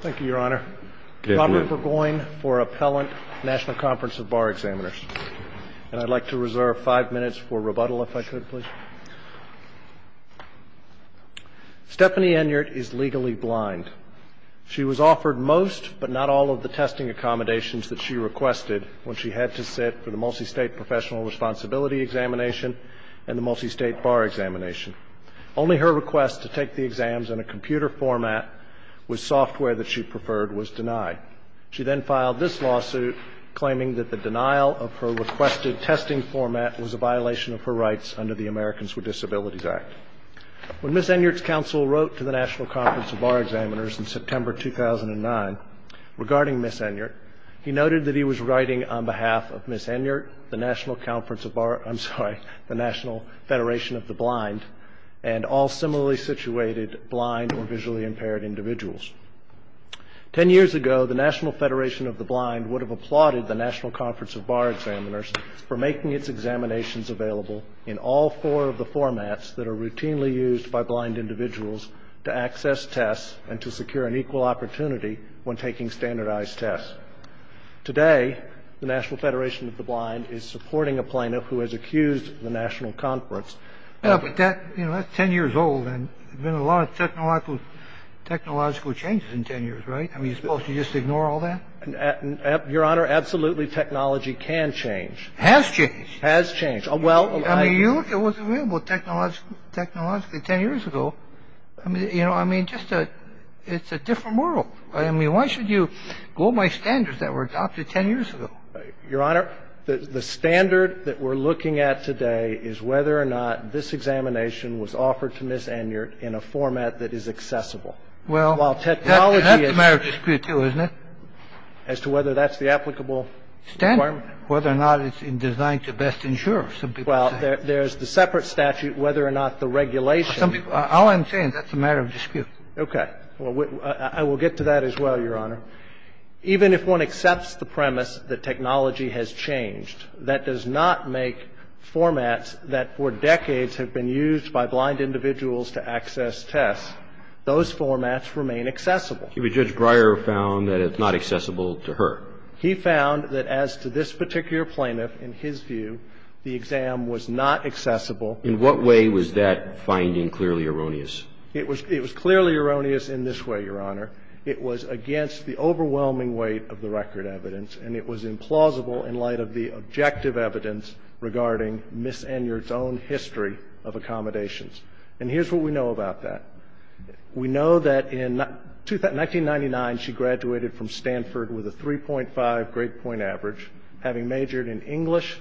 Thank you, Your Honor. Robert Burgoyne for Appellant, National Conference of Bar Examiners. And I'd like to reserve five minutes for rebuttal, if I could, please. Stephanie Enyart is legally blind. She was offered most, but not all, of the testing accommodations that she requested when she had to sit for the Multistate Professional Responsibility Examination and the Multistate Bar Examination. Only her request to take the exams in a computer format with software that she preferred was denied. She then filed this lawsuit, claiming that the denial of her requested testing format was a violation of her rights under the Americans with Disabilities Act. When Ms. Enyart's counsel wrote to the National Conference of Bar Examiners in September 2009, regarding Ms. Enyart, he noted that he was writing on behalf of Ms. Enyart, the National Conference of Bar, I'm sorry, the National Federation of the Blind, and all similarly situated blind or visually impaired individuals. Ten years ago, the National Federation of the Blind would have applauded the National Conference of Bar Examiners for making its examinations available in all four of the formats that are routinely used by blind individuals to access tests and to secure an equal opportunity when taking standardized tests. Today, the National Federation of the Blind is supporting a plaintiff who has accused the National Conference. But that's ten years old, and there's been a lot of technological changes in ten years, right? Are we supposed to just ignore all that? Your Honor, absolutely technology can change. Has changed. Has changed. I mean, it was available technologically ten years ago. You know, I mean, it's a different world. I mean, why should you go by standards that were adopted ten years ago? Your Honor, the standard that we're looking at today is whether or not this examination was offered to Ms. Enyart in a format that is accessible. Well, that's a matter of dispute, too, isn't it? As to whether that's the applicable requirement. Whether or not it's designed to best ensure, some people say. Well, there's the separate statute whether or not the regulation. All I'm saying, that's a matter of dispute. Okay. Well, I will get to that as well, Your Honor. Even if one accepts the premise that technology has changed, that does not make formats that for decades have been used by blind individuals to access tests, those formats remain accessible. But Judge Breyer found that it's not accessible to her. He found that as to this particular plaintiff, in his view, the exam was not accessible. In what way was that finding clearly erroneous? It was clearly erroneous in this way, Your Honor. It was against the overwhelming weight of the record evidence, and it was implausible in light of the objective evidence regarding Ms. Enyart's own history of accommodations. And here's what we know about that. We know that in 1999, she graduated from Stanford with a 3.5 grade point average, having majored in English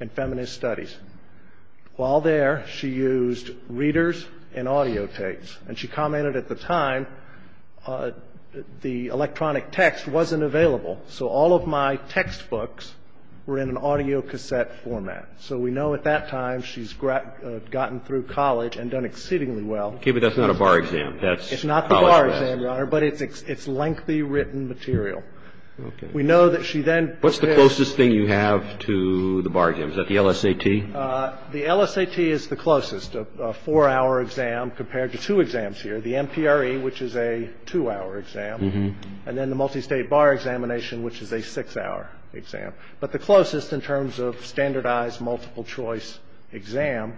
and feminist studies. While there, she used readers and audio tapes. And she commented at the time, the electronic text wasn't available. So all of my textbooks were in an audio cassette format. So we know at that time she's gotten through college and done exceedingly well. Okay. But that's not a bar exam. That's college math. It's not the bar exam, Your Honor. But it's lengthy written material. Okay. We know that she then prepared. What's the closest thing you have to the bar exam? Is that the LSAT? The LSAT is the closest, a four-hour exam compared to two exams here. The MPRE, which is a two-hour exam, and then the multistate bar examination, which is a six-hour exam. But the closest in terms of standardized multiple choice exam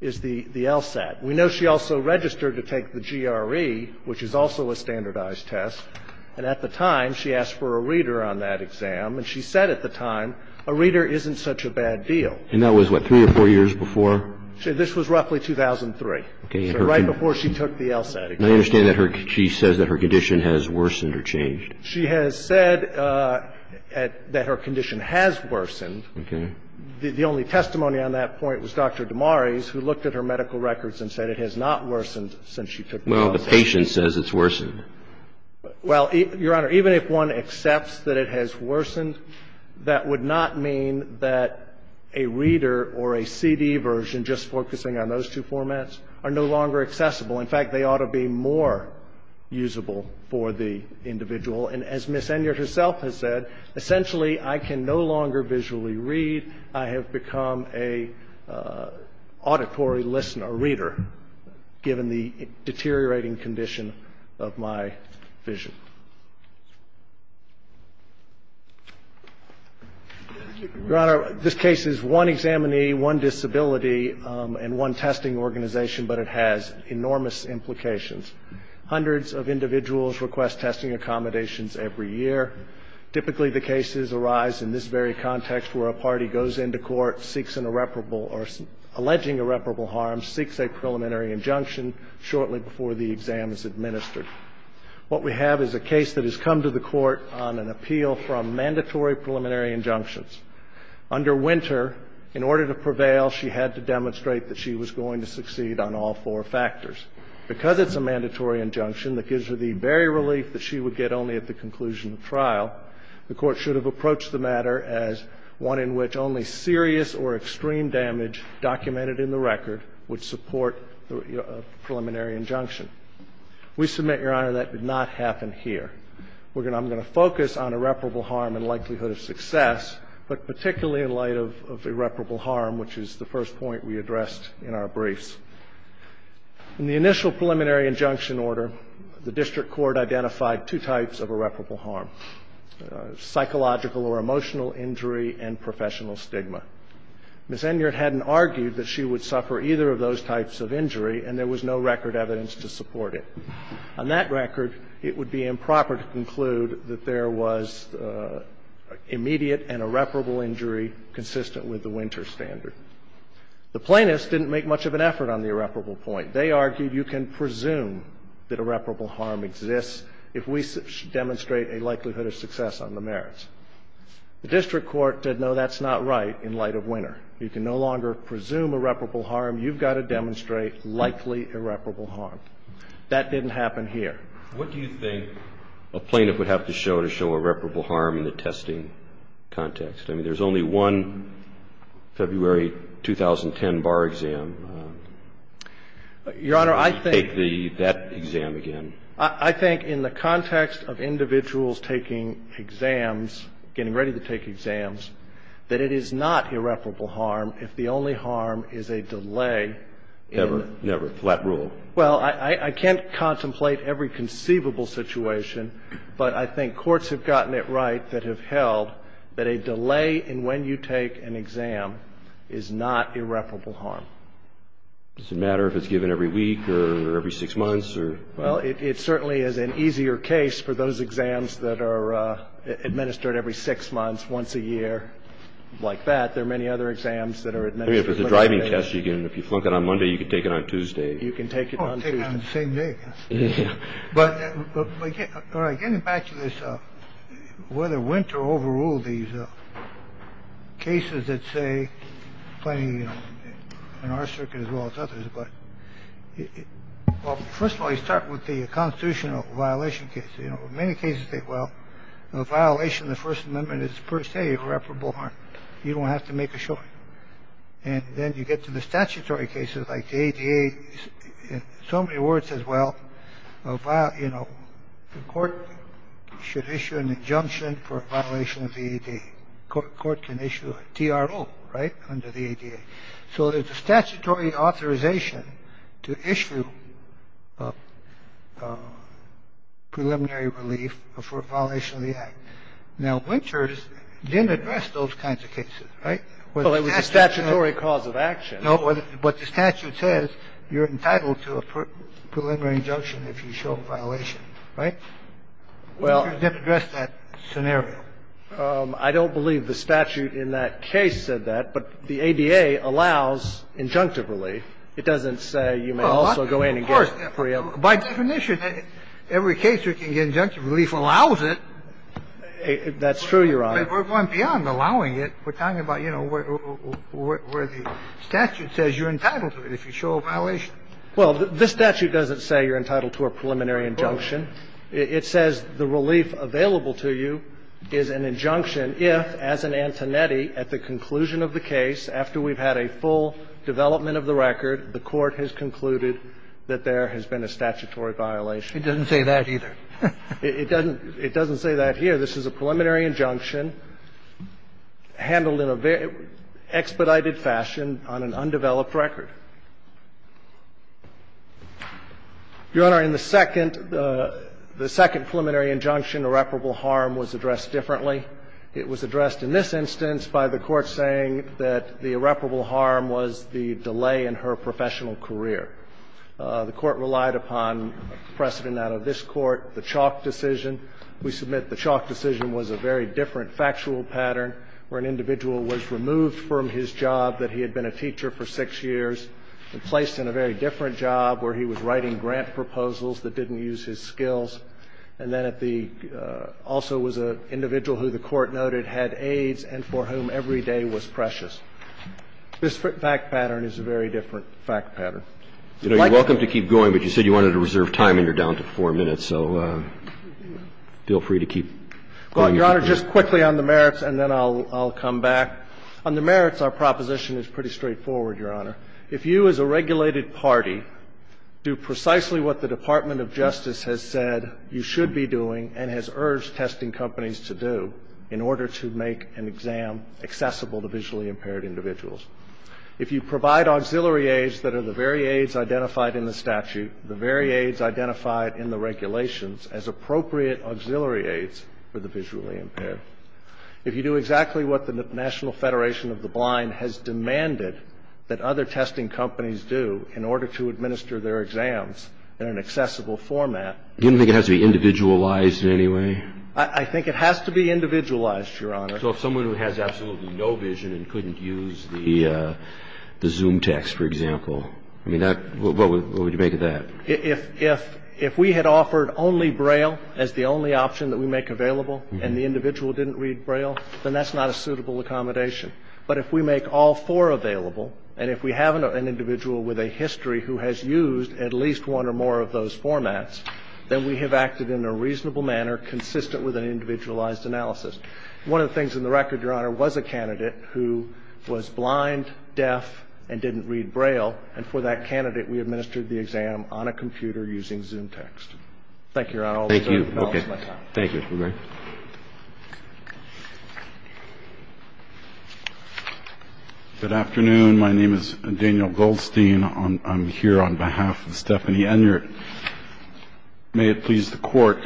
is the LSAT. We know she also registered to take the GRE, which is also a standardized test. And at the time, she asked for a reader on that exam. And she said at the time, a reader isn't such a bad deal. And that was what, three or four years before? This was roughly 2003. Okay. So right before she took the LSAT exam. And I understand that she says that her condition has worsened or changed. She has said that her condition has worsened. Okay. The only testimony on that point was Dr. Damaris, who looked at her medical records and said it has not worsened since she took the LSAT exam. Well, the patient says it's worsened. Well, Your Honor, even if one accepts that it has worsened, that would not mean that a reader or a CD version, just focusing on those two formats, are no longer accessible. In fact, they ought to be more usable for the individual. And as Ms. Enyart herself has said, essentially, I can no longer visually read. I have become an auditory listener, reader, given the deteriorating condition of my vision. Your Honor, this case is one examinee, one disability, and one testing organization, but it has enormous implications. Hundreds of individuals request testing accommodations every year. Typically, the cases arise in this very context, where a party goes into court, seeks an irreparable or alleging irreparable harm, seeks a preliminary injunction shortly before the exam is administered. What we have is a case that has come to the Court on an appeal from mandatory preliminary injunctions. Under Winter, in order to prevail, she had to demonstrate that she was going to succeed on all four factors. Because it's a mandatory injunction that gives her the very relief that she would get only at the conclusion of trial, the Court should have approached the matter as one in which only serious or extreme damage documented in the record would support the preliminary injunction. We submit, Your Honor, that did not happen here. I'm going to focus on irreparable harm and likelihood of success, but particularly in light of irreparable harm, which is the first point we addressed in our briefs. In the initial preliminary injunction order, the district court identified two types of irreparable harm, psychological or emotional injury and professional stigma. Ms. Enyart hadn't argued that she would suffer either of those types of injury, and there was no record evidence to support it. On that record, it would be improper to conclude that there was immediate and irreparable injury consistent with the Winter standard. The plaintiffs didn't make much of an effort on the irreparable point. They argued you can presume that irreparable harm exists if we demonstrate a likelihood of success on the merits. The district court said, no, that's not right in light of Winter. You can no longer presume irreparable harm. You've got to demonstrate likely irreparable harm. That didn't happen here. What do you think a plaintiff would have to show to show irreparable harm in the testing context? I mean, there's only one February 2010 bar exam. Can you take that exam again? Your Honor, I think in the context of individuals taking exams, getting ready to take exams, that it is not irreparable harm if the only harm is a delay in the rule. Never. Never. Flat rule. Well, I can't contemplate every conceivable situation, but I think courts have gotten it right that have held that a delay in when you take an exam is not irreparable harm. Does it matter if it's given every week or every six months? Well, it certainly is an easier case for those exams that are administered every six months, once a year, like that. There are many other exams that are administered. I mean, if it's a driving test, if you flunk it on Monday, you can take it on Tuesday. You can take it on Tuesday. Oh, take it on the same day. Yes. But getting back to this, whether winter overruled these cases that say playing in our circuit as well as others. But first of all, you start with the constitutional violation case. You know, in many cases, well, a violation of the First Amendment is per se irreparable harm. You don't have to make a show. And then you get to the statutory cases like the ADA. So many words as well. Well, you know, the court should issue an injunction for a violation of the ADA. Court can issue a T.R.O. Right. Under the ADA. So there's a statutory authorization to issue a preliminary relief for a violation of the act. Now, Winters didn't address those kinds of cases. Right. Well, it was a statutory cause of action. No, what the statute says, you're entitled to a preliminary injunction if you show a violation. Right. Well, you didn't address that scenario. I don't believe the statute in that case said that. But the ADA allows injunctive relief. It doesn't say you may also go in and get free. By definition, every case you can get injunctive relief allows it. That's true, Your Honor. We're going beyond allowing it. We're talking about, you know, where the statute says you're entitled to it if you show a violation. Well, the statute doesn't say you're entitled to a preliminary injunction. It says the relief available to you is an injunction if, as an antineti, at the conclusion of the case, after we've had a full development of the record, the court has concluded that there has been a statutory violation. It doesn't say that either. It doesn't say that here. This is a preliminary injunction handled in an expedited fashion on an undeveloped record. Your Honor, in the second preliminary injunction, irreparable harm was addressed differently. It was addressed in this instance by the Court saying that the irreparable harm was the delay in her professional career. The Court relied upon precedent out of this Court, the Chalk decision. We submit the Chalk decision was a very different factual pattern where an individual was removed from his job that he had been a teacher for six years and placed in a very different job where he was writing grant proposals that didn't use his skills. And then at the also was an individual who the Court noted had AIDS and for whom every day was precious. This fact pattern is a very different fact pattern. You know, you're welcome to keep going, but you said you wanted to reserve time and you're free to keep going. Well, Your Honor, just quickly on the merits and then I'll come back. On the merits, our proposition is pretty straightforward, Your Honor. If you as a regulated party do precisely what the Department of Justice has said you should be doing and has urged testing companies to do in order to make an exam accessible to visually impaired individuals, if you provide auxiliary aids that are the very aids identified in the regulations as appropriate auxiliary aids for the visually impaired, if you do exactly what the National Federation of the Blind has demanded that other testing companies do in order to administer their exams in an accessible format. You don't think it has to be individualized in any way? I think it has to be individualized, Your Honor. So if someone who has absolutely no vision and couldn't use the Zoom text, for example, I mean, what would you make of that? If we had offered only Braille as the only option that we make available and the individual didn't read Braille, then that's not a suitable accommodation. But if we make all four available and if we have an individual with a history who has used at least one or more of those formats, then we have acted in a reasonable manner consistent with an individualized analysis. One of the things in the record, Your Honor, was a candidate who was blind, deaf, and didn't read Braille, and for that candidate we administered the exam on a computer using Zoom text. Thank you, Your Honor. Thank you. Okay. Thank you, Mr. McGregor. Good afternoon. My name is Daniel Goldstein. I'm here on behalf of Stephanie Enyart. May it please the Court.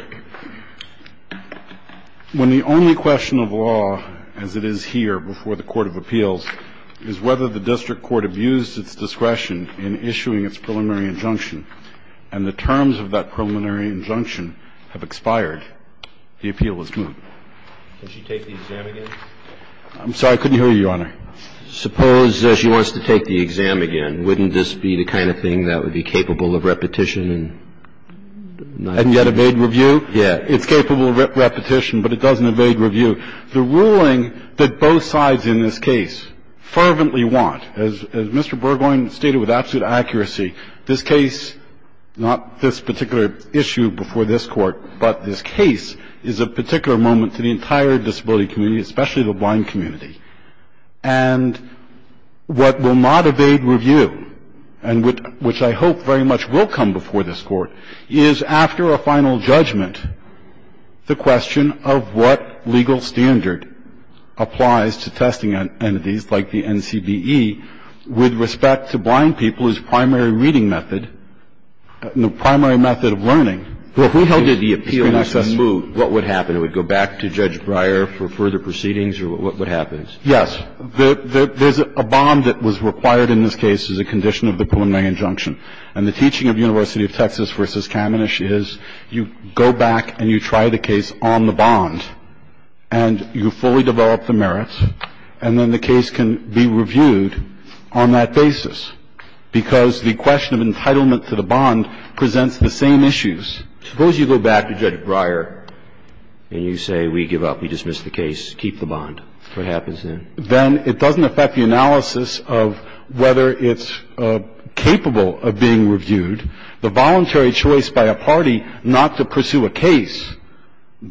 When the only question of law as it is here before the Court of Appeals is whether the district court abused its discretion in issuing its preliminary injunction and the terms of that preliminary injunction have expired, the appeal is moot. Can she take the exam again? I'm sorry. I couldn't hear you, Your Honor. Suppose she wants to take the exam again. Wouldn't this be the kind of thing that would be capable of repetition? And yet evade review? Yeah. It's capable of repetition, but it doesn't evade review. The ruling that both sides in this case fervently want, as Mr. Burgoyne stated with absolute accuracy, this case, not this particular issue before this Court, but this case is a particular moment to the entire disability community, especially the blind community. And what will not evade review, and which I hope very much will come before this Court, is after a final judgment, the question of what legal standard applies to testing entities like the NCBE with respect to blind people as primary reading method, primary method of learning. Well, if we held it the appeal is moot, what would happen? It would go back to Judge Breyer for further proceedings, or what would happen? Yes. There's a bond that was required in this case as a condition of the preliminary injunction. And the teaching of University of Texas v. Kamenisch is you go back and you try the case on the bond, and you fully develop the merits, and then the case can be reviewed on that basis. Because the question of entitlement to the bond presents the same issues. Suppose you go back to Judge Breyer and you say we give up, we dismiss the case, keep the bond. What happens then? Then it doesn't affect the analysis of whether it's capable of being reviewed. The voluntary choice by a party not to pursue a case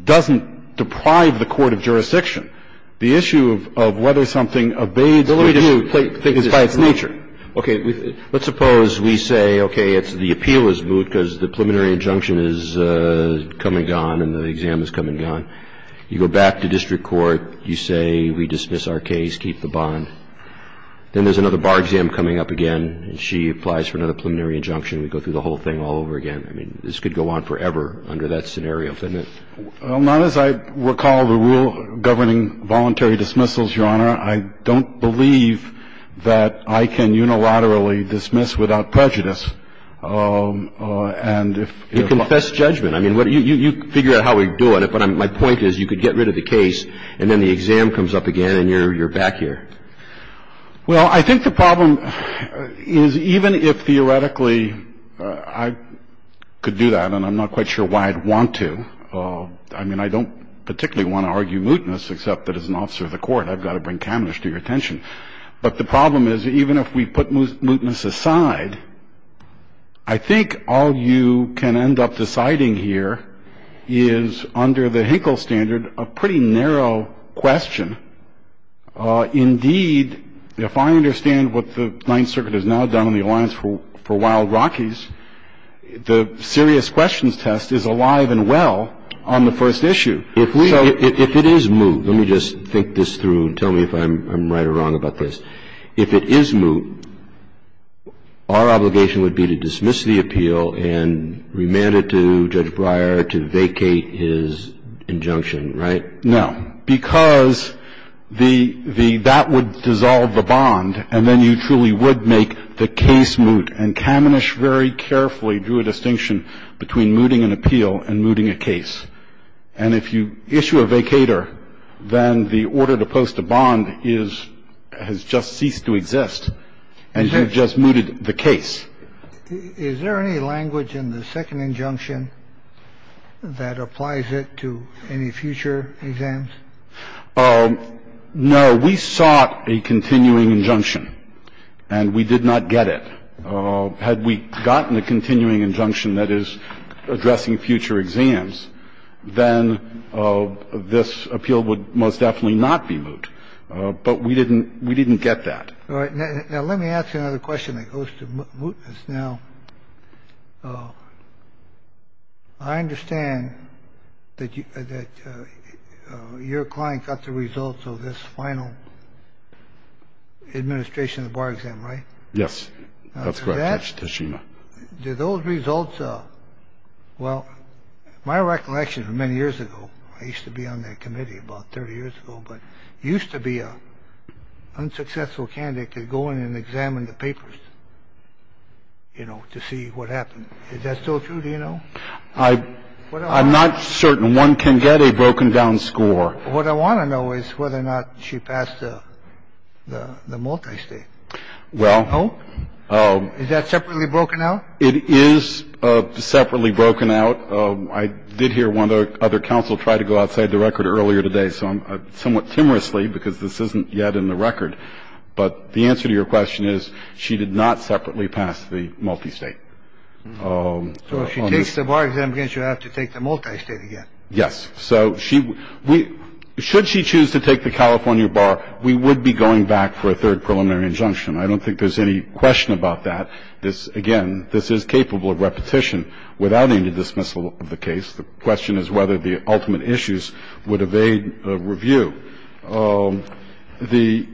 doesn't deprive the court of jurisdiction. The issue of whether something abates the review is by its nature. Okay. Let's suppose we say, okay, it's the appeal is moot because the preliminary injunction is come and gone and the exam is come and gone. You go back to district court, you say we dismiss our case, keep the bond. Then there's another bar exam coming up again, and she applies for another preliminary injunction. We go through the whole thing all over again. I mean, this could go on forever under that scenario, couldn't it? Well, not as I recall the rule governing voluntary dismissals, Your Honor. I don't believe that I can unilaterally dismiss without prejudice. And if you know what I mean. You confess judgment. I mean, you figure out how we're doing it, but my point is you could get rid of the case and then the exam comes up again and you're back here. Well, I think the problem is even if theoretically I could do that, and I'm not quite sure why I'd want to, I mean, I don't particularly want to argue mootness, except that as an officer of the court, I've got to bring cameras to your attention. But the problem is even if we put mootness aside, I think all you can end up deciding here is under the Hinkle standard a pretty narrow question. Indeed, if I understand what the Ninth Circuit has now done in the Alliance for Wild Rockies, the serious questions test is alive and well on the first issue. If we go to the first issue. If it is moot, let me just think this through and tell me if I'm right or wrong about this. If it is moot, our obligation would be to dismiss the appeal and remand it to Judge Breyer to vacate his injunction, right? No. Because the the that would dissolve the bond and then you truly would make the case moot. And Kamenisch very carefully drew a distinction between mooting an appeal and mooting a case. And if you issue a vacater, then the order to post a bond is has just ceased to exist and you've just mooted the case. Is there any language in the second injunction that applies it to any future exams? No. We sought a continuing injunction and we did not get it. Had we gotten a continuing injunction that is addressing future exams, then this appeal would most definitely not be moot. But we didn't we didn't get that. All right. Now, let me ask you another question that goes to mootness. Now, I understand that that your client got the results of this final administration of the bar exam, right? Yes. That's correct. That's Tashima. Did those results. Well, my recollection of many years ago, I used to be on that committee about 30 years ago, but used to be a unsuccessful candidate to go in and examine the papers, you know, to see what happened. Is that still true? Do you know? I'm not certain. One can get a broken down score. What I want to know is whether or not she passed the multistate. Well. Oh, is that separately broken out? It is separately broken out. I did hear one other counsel try to go outside the record earlier today. So I'm somewhat timorously because this isn't yet in the record. But the answer to your question is she did not separately pass the multistate. So if she takes the bar exam again, she'll have to take the multistate again. Yes. So she should she choose to take the California bar, we would be going back for a third preliminary injunction. I don't think there's any question about that. This again, this is capable of repetition without any dismissal of the case. The question is whether the ultimate issues would evade review. The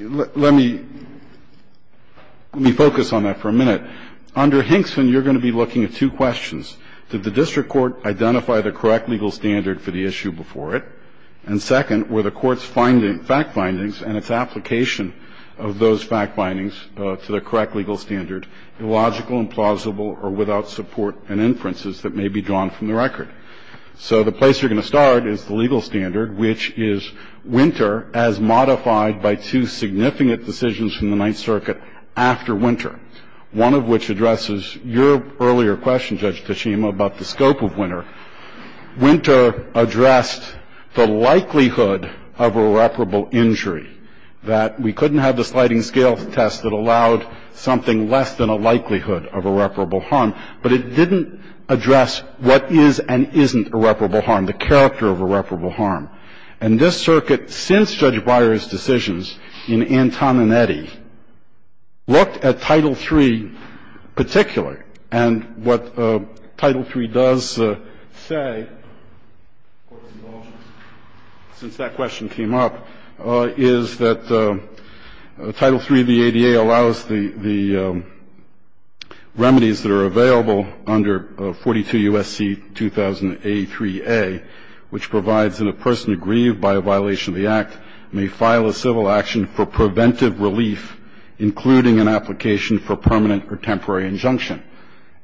let me let me focus on that for a minute. Under Hinkson, you're going to be looking at two questions. Did the district court identify the correct legal standard for the issue before it? And second, were the court's finding fact findings and its application of those fact findings to the correct legal standard illogical and plausible or without support and inferences that may be drawn from the record. So the place you're going to start is the legal standard, which is winter as modified by two significant decisions from the Ninth Circuit after winter, one of which addresses your earlier question, Judge Tachima, about the scope of winter. Winter addressed the likelihood of irreparable injury, that we couldn't have the sliding scale test that allowed something less than a likelihood of irreparable harm. But it didn't address what is and isn't irreparable harm, the character of irreparable harm. And this circuit, since Judge Breyer's decisions in Antoninetti, looked at Title III particularly, and what Title III does say, since that question came up, is that Title III of the ADA allows the remedies that are available under 42 U.S.C. 2000-A3A, which provides that a person aggrieved by a violation of the Act may file a civil action for preventive relief, including an application for permanent or temporary injunction.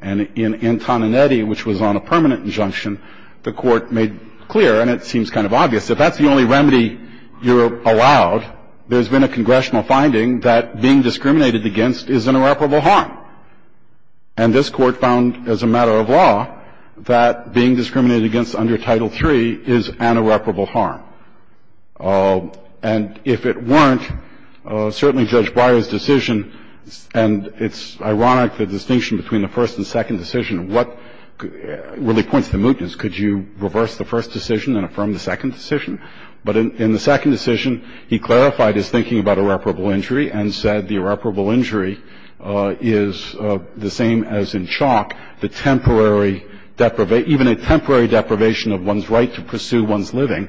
And in Antoninetti, which was on a permanent injunction, the Court made clear, and it seems kind of obvious, if that's the only remedy you're allowed, there's been a congressional finding that being discriminated against is an irreparable harm. And this Court found, as a matter of law, that being discriminated against under Title III is an irreparable harm. And if it weren't, certainly Judge Breyer's decision, and it's ironic the distinction between the first and second decision, what really points to mootness. Could you reverse the first decision and affirm the second decision? But in the second decision, he clarified his thinking about irreparable injury and said the irreparable injury is the same as in chalk, the temporary deprivation of one's right to pursue one's living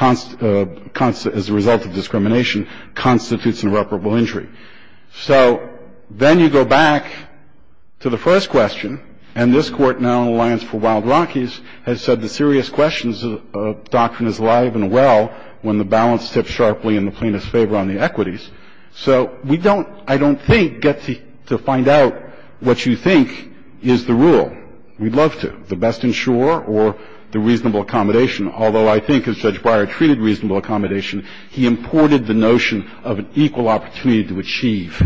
as a result of discrimination constitutes an irreparable injury. So then you go back to the first question, and this Court, now in alliance for Wild Rockies, has said the serious question of doctrine is alive and well when the balance tips sharply in the plaintiff's favor on the equities. So we don't, I don't think, get to find out what you think is the rule. We'd love to. The best insurer or the reasonable accommodation. Although I think, as Judge Breyer treated reasonable accommodation, he imported the notion of an equal opportunity to achieve,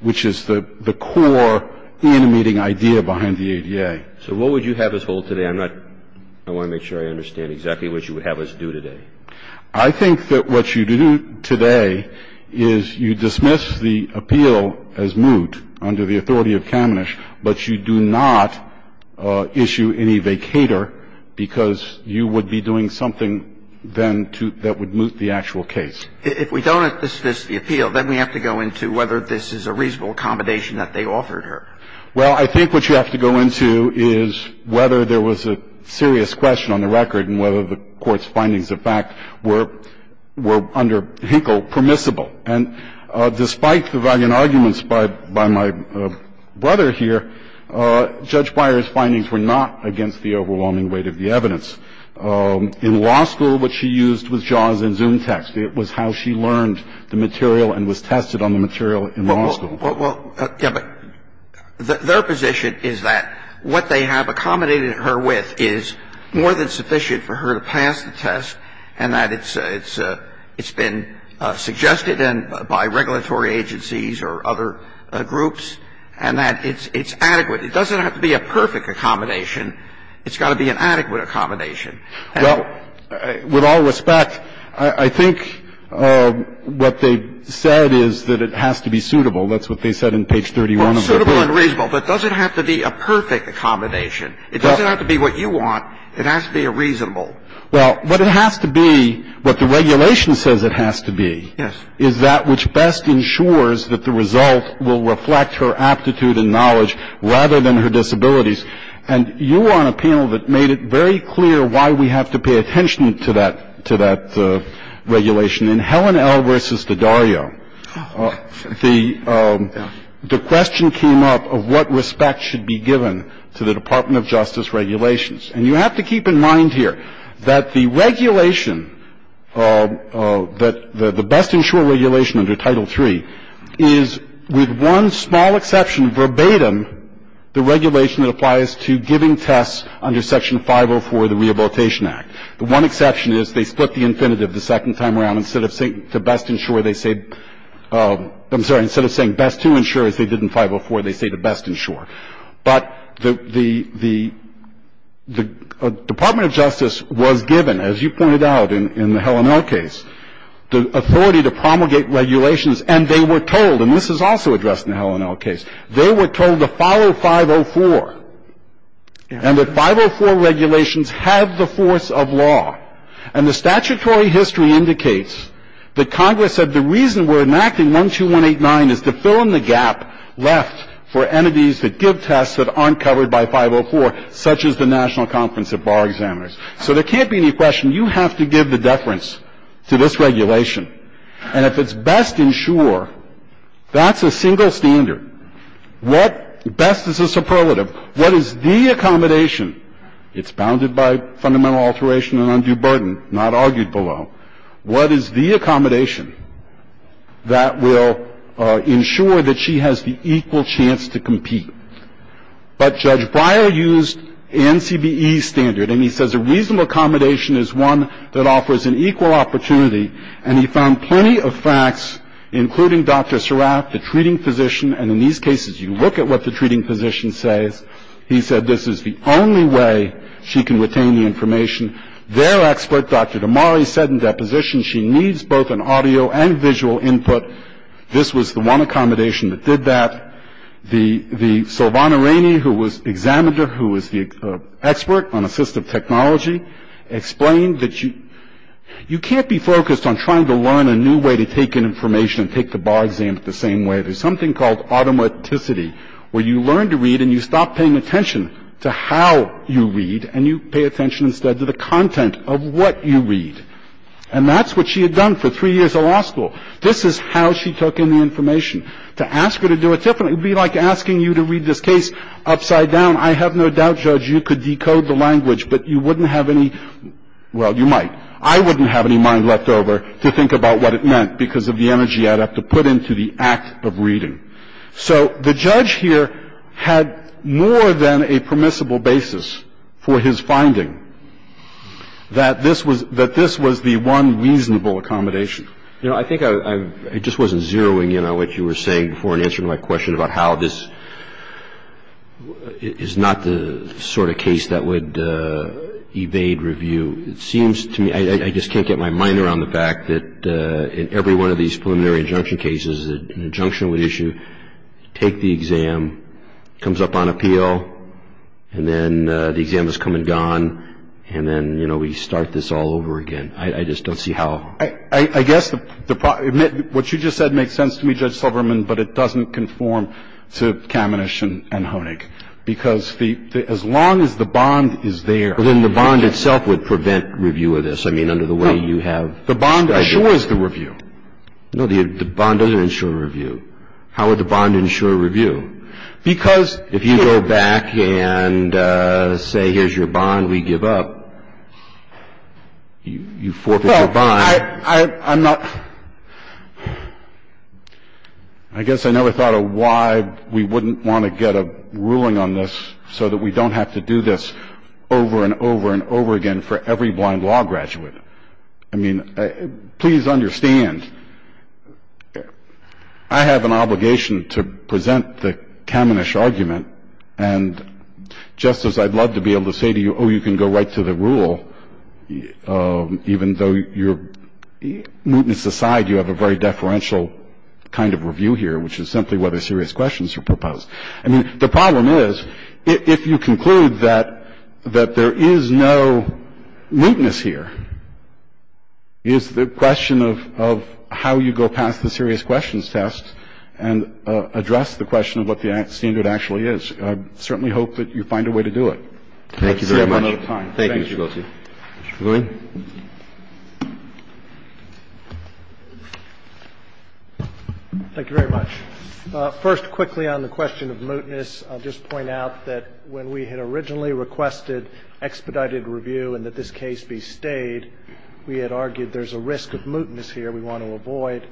which is the core animating idea behind the ADA. So what would you have us hold today? I'm not, I want to make sure I understand exactly what you would have us do today. I think that what you do today is you dismiss the appeal as moot under the authority of Kamenisch, but you do not issue any vacator because you would be doing something then to, that would moot the actual case. If we don't dismiss the appeal, then we have to go into whether this is a reasonable accommodation that they offered her. Well, I think what you have to go into is whether there was a serious question on the record and whether the Court's findings of fact were under Hinkle permissible. And despite the valiant arguments by my brother here, Judge Breyer's findings were not against the overwhelming weight of the evidence. In law school, what she used was JAWS and ZoomText. It was how she learned the material and was tested on the material in law school. Well, yeah, but their position is that what they have accommodated her with is more than sufficient for her to pass the test and that it's been suggested by regulatory agencies or other groups and that it's adequate. It doesn't have to be a perfect accommodation. It's got to be an adequate accommodation. Well, with all respect, I think what they said is that it has to be suitable. That's what they said in page 31 of the book. Well, suitable and reasonable. But it doesn't have to be a perfect accommodation. It doesn't have to be what you want. It has to be a reasonable. Well, what it has to be, what the regulation says it has to be is that which best ensures that the result will reflect her aptitude and knowledge rather than her disabilities. And you were on a panel that made it very clear why we have to pay attention to that regulation. In Helen L. v. Dodario, the question came up of what respect should be given to the Department of Justice regulations. And you have to keep in mind here that the regulation, the best insured regulation under Title III is with one small exception verbatim the regulation that applies to giving tests under Section 504 of the Rehabilitation Act. The one exception is they split the infinitive the second time around. Instead of saying to best insure, they say — I'm sorry. Instead of saying best to insure, as they did in 504, they say to best insure. But the Department of Justice was given, as you pointed out in the Helen L. case, the authority to promulgate regulations, and they were told, and this is also addressed in the Helen L. case, they were told to follow 504 and that 504 regulations have the force of law. And the statutory history indicates that Congress said the reason we're enacting 12189 is to fill in the gap left for entities that give tests that aren't covered by 504, such as the National Conference of Bar Examiners. So there can't be any question. You have to give the deference to this regulation. And if it's best insure, that's a single standard. What best is a superlative? What is the accommodation? It's bounded by fundamental alteration and undue burden, not argued below. What is the accommodation that will ensure that she has the equal chance to compete? But Judge Breyer used the NCBE standard, and he says a reasonable accommodation is one that offers an equal opportunity. And he found plenty of facts, including Dr. Surratt, the treating physician. And in these cases, you look at what the treating physician says. He said this is the only way she can retain the information. Their expert, Dr. Damari, said in deposition she needs both an audio and visual input. This was the one accommodation that did that. The Sylvana Rainey, who was examiner, who was the expert on assistive technology, explained that you can't be focused on trying to learn a new way to take in information and take the bar exam the same way. There's something called automaticity, where you learn to read and you stop paying attention to how you read, and you pay attention instead to the content of what you read. And that's what she had done for three years of law school. This is how she took in the information. To ask her to do it differently would be like asking you to read this case upside down. I have no doubt, Judge, you could decode the language, but you wouldn't have any – well, you might. I wouldn't have any mind left over to think about what it meant because of the energy I'd have to put into the act of reading. So the judge here had more than a permissible basis for his finding that this was the one reasonable accommodation. You know, I think I just wasn't zeroing in on what you were saying before in answer to my question about how this is not the sort of case that would evade review. It seems to me – I just can't get my mind around the fact that in every one of these preliminary injunction cases, an injunction would issue, take the exam, comes up on appeal, and then the exam has come and gone, and then, you know, we start this all over again. I just don't see how – I guess what you just said makes sense to me, Judge Silverman, but it doesn't conform to Kamenich and Honig. Because as long as the bond is there – Then the bond itself would prevent review of this. I mean, under the way you have – No. The bond assures the review. No, the bond doesn't insure review. How would the bond insure review? If you go back and say, here's your bond, we give up, you forfeit your bond. Well, I'm not – I guess I never thought of why we wouldn't want to get a ruling on this so that we don't have to do this over and over and over again for every blind law graduate. I mean, please understand, I have an obligation to present the Kamenich argument, and just as I'd love to be able to say to you, oh, you can go right to the rule, even though your mootness aside, you have a very deferential kind of review here, which is simply whether serious questions are proposed. I mean, the problem is, if you conclude that there is no mootness here, it's the question of how you go past the serious questions test and address the question of what the standard actually is. I certainly hope that you find a way to do it. Thank you very much. Thank you, Mr. Guilty. Thank you. Mr. Guilty. Thank you very much. First, quickly on the question of mootness, I'll just point out that when we had originally requested expedited review and that this case be stayed, we had argued there's a risk of mootness here we want to avoid.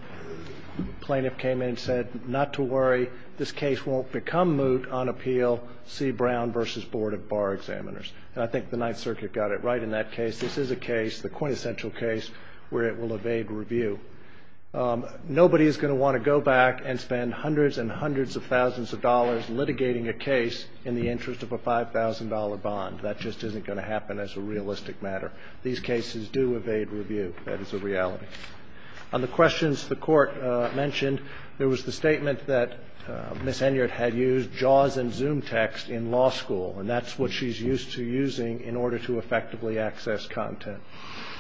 The plaintiff came in and said, not to worry, this case won't become moot on appeal, see Brown v. Board of Bar Examiners. And I think the Ninth Circuit got it right in that case. This is a case, the quintessential case, where it will evade review. Nobody is going to want to go back and spend hundreds and hundreds of thousands of dollars litigating a case in the interest of a $5,000 bond. That just isn't going to happen as a realistic matter. These cases do evade review. That is a reality. On the questions the Court mentioned, there was the statement that Ms. Henyard had used JAWS and ZoomText in law school, and that's what she's used to using in order to effectively access content.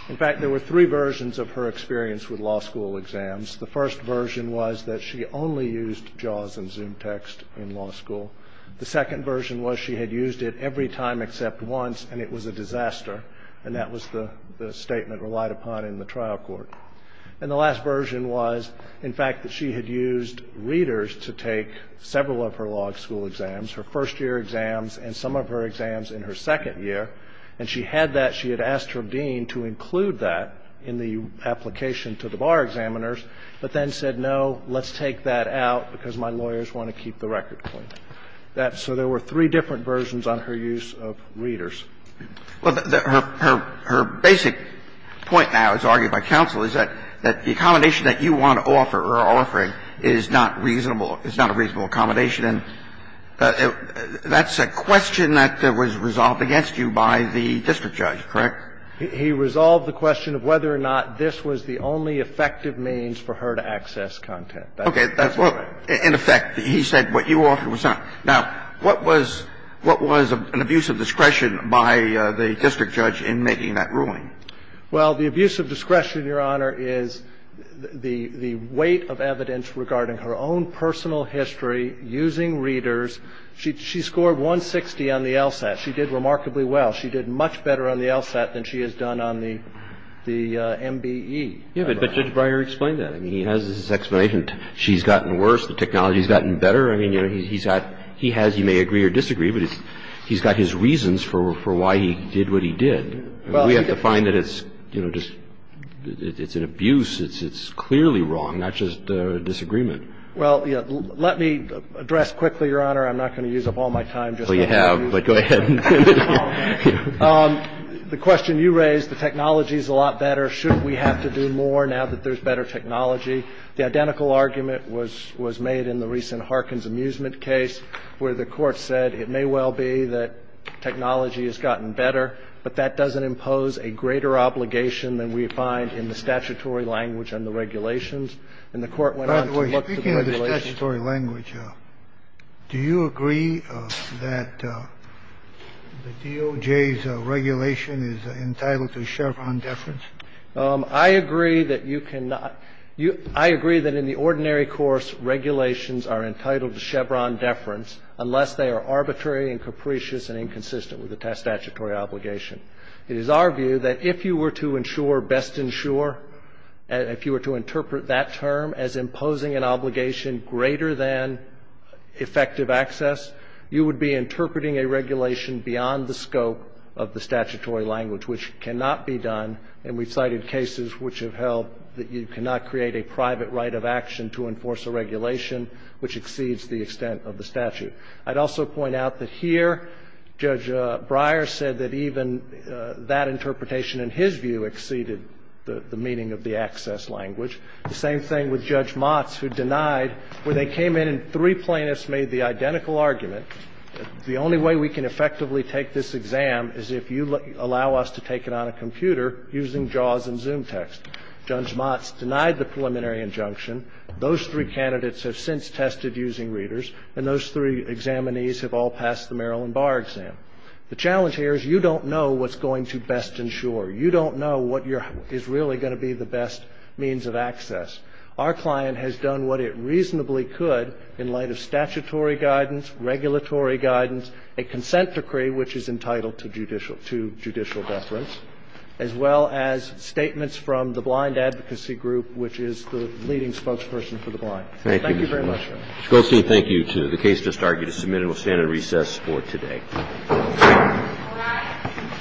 In fact, there were three versions of her experience with law school exams. The first version was that she only used JAWS and ZoomText in law school. The second version was she had used it every time except once, and it was a disaster, and that was the statement relied upon in the trial court. And the last version was, in fact, that she had used readers to take several of her law school exams, her first-year exams and some of her exams in her second year, and she had that. She had asked her dean to include that in the application to the bar examiners but then said, no, let's take that out because my lawyers want to keep the record clean. So there were three different versions on her use of readers. Well, her basic point now, as argued by counsel, is that the accommodation that you want to offer or are offering is not reasonable or is not a reasonable accommodation. And that's a question that was resolved against you by the district judge, correct? He resolved the question of whether or not this was the only effective means for her to access content. Okay. That's correct. In effect, he said what you offered was not. Now, what was an abuse of discretion by the district judge in making that ruling? Well, the abuse of discretion, Your Honor, is the weight of evidence regarding her own personal history using readers. She scored 160 on the LSAT. She did remarkably well. She did much better on the LSAT than she has done on the MBE. Yes, but Judge Breyer explained that. I mean, he has his explanation. She's gotten worse. The technology's gotten better. I mean, you know, he's got he has you may agree or disagree, but he's got his reasons for why he did what he did. We have to find that it's, you know, just it's an abuse. It's clearly wrong, not just a disagreement. Well, let me address quickly, Your Honor. I'm not going to use up all my time. Well, you have, but go ahead. The question you raised, the technology's a lot better. Shouldn't we have to do more now that there's better technology? The identical argument was made in the recent Harkins amusement case where the court said it may well be that technology has gotten better, but that doesn't impose a greater obligation than we find in the statutory language and the regulations. And the court went on to look at the regulations. By the way, speaking of the statutory language, do you agree that the DOJ's regulation is entitled to Chevron deference? I agree that you cannot. I agree that in the ordinary course, regulations are entitled to Chevron deference unless they are arbitrary and capricious and inconsistent with the statutory obligation. It is our view that if you were to ensure, best ensure, if you were to interpret that term as imposing an obligation greater than effective access, you would be interpreting a regulation beyond the scope of the statutory language, which cannot be done. And we've cited cases which have held that you cannot create a private right of action to enforce a regulation which exceeds the extent of the statute. I'd also point out that here Judge Breyer said that even that interpretation in his view exceeded the meaning of the access language. The same thing with Judge Motz, who denied where they came in and three plaintiffs made the identical argument, the only way we can effectively take this exam is if you allow us to take it on a computer using JAWS and ZoomText. Judge Motz denied the preliminary injunction. Those three candidates have since tested using readers, and those three examinees have all passed the Maryland bar exam. The challenge here is you don't know what's going to best ensure. You don't know what is really going to be the best means of access. Our client has done what it reasonably could in light of statutory guidance, regulatory guidance, a consent decree which is entitled to judicial deference, as well as statements from the Blind Advocacy Group, which is the leading spokesperson for the blind. Thank you very much, Your Honor. Mr. Goldstein, thank you, too. The case just argued is submitted. We'll stand at recess for today. All rise.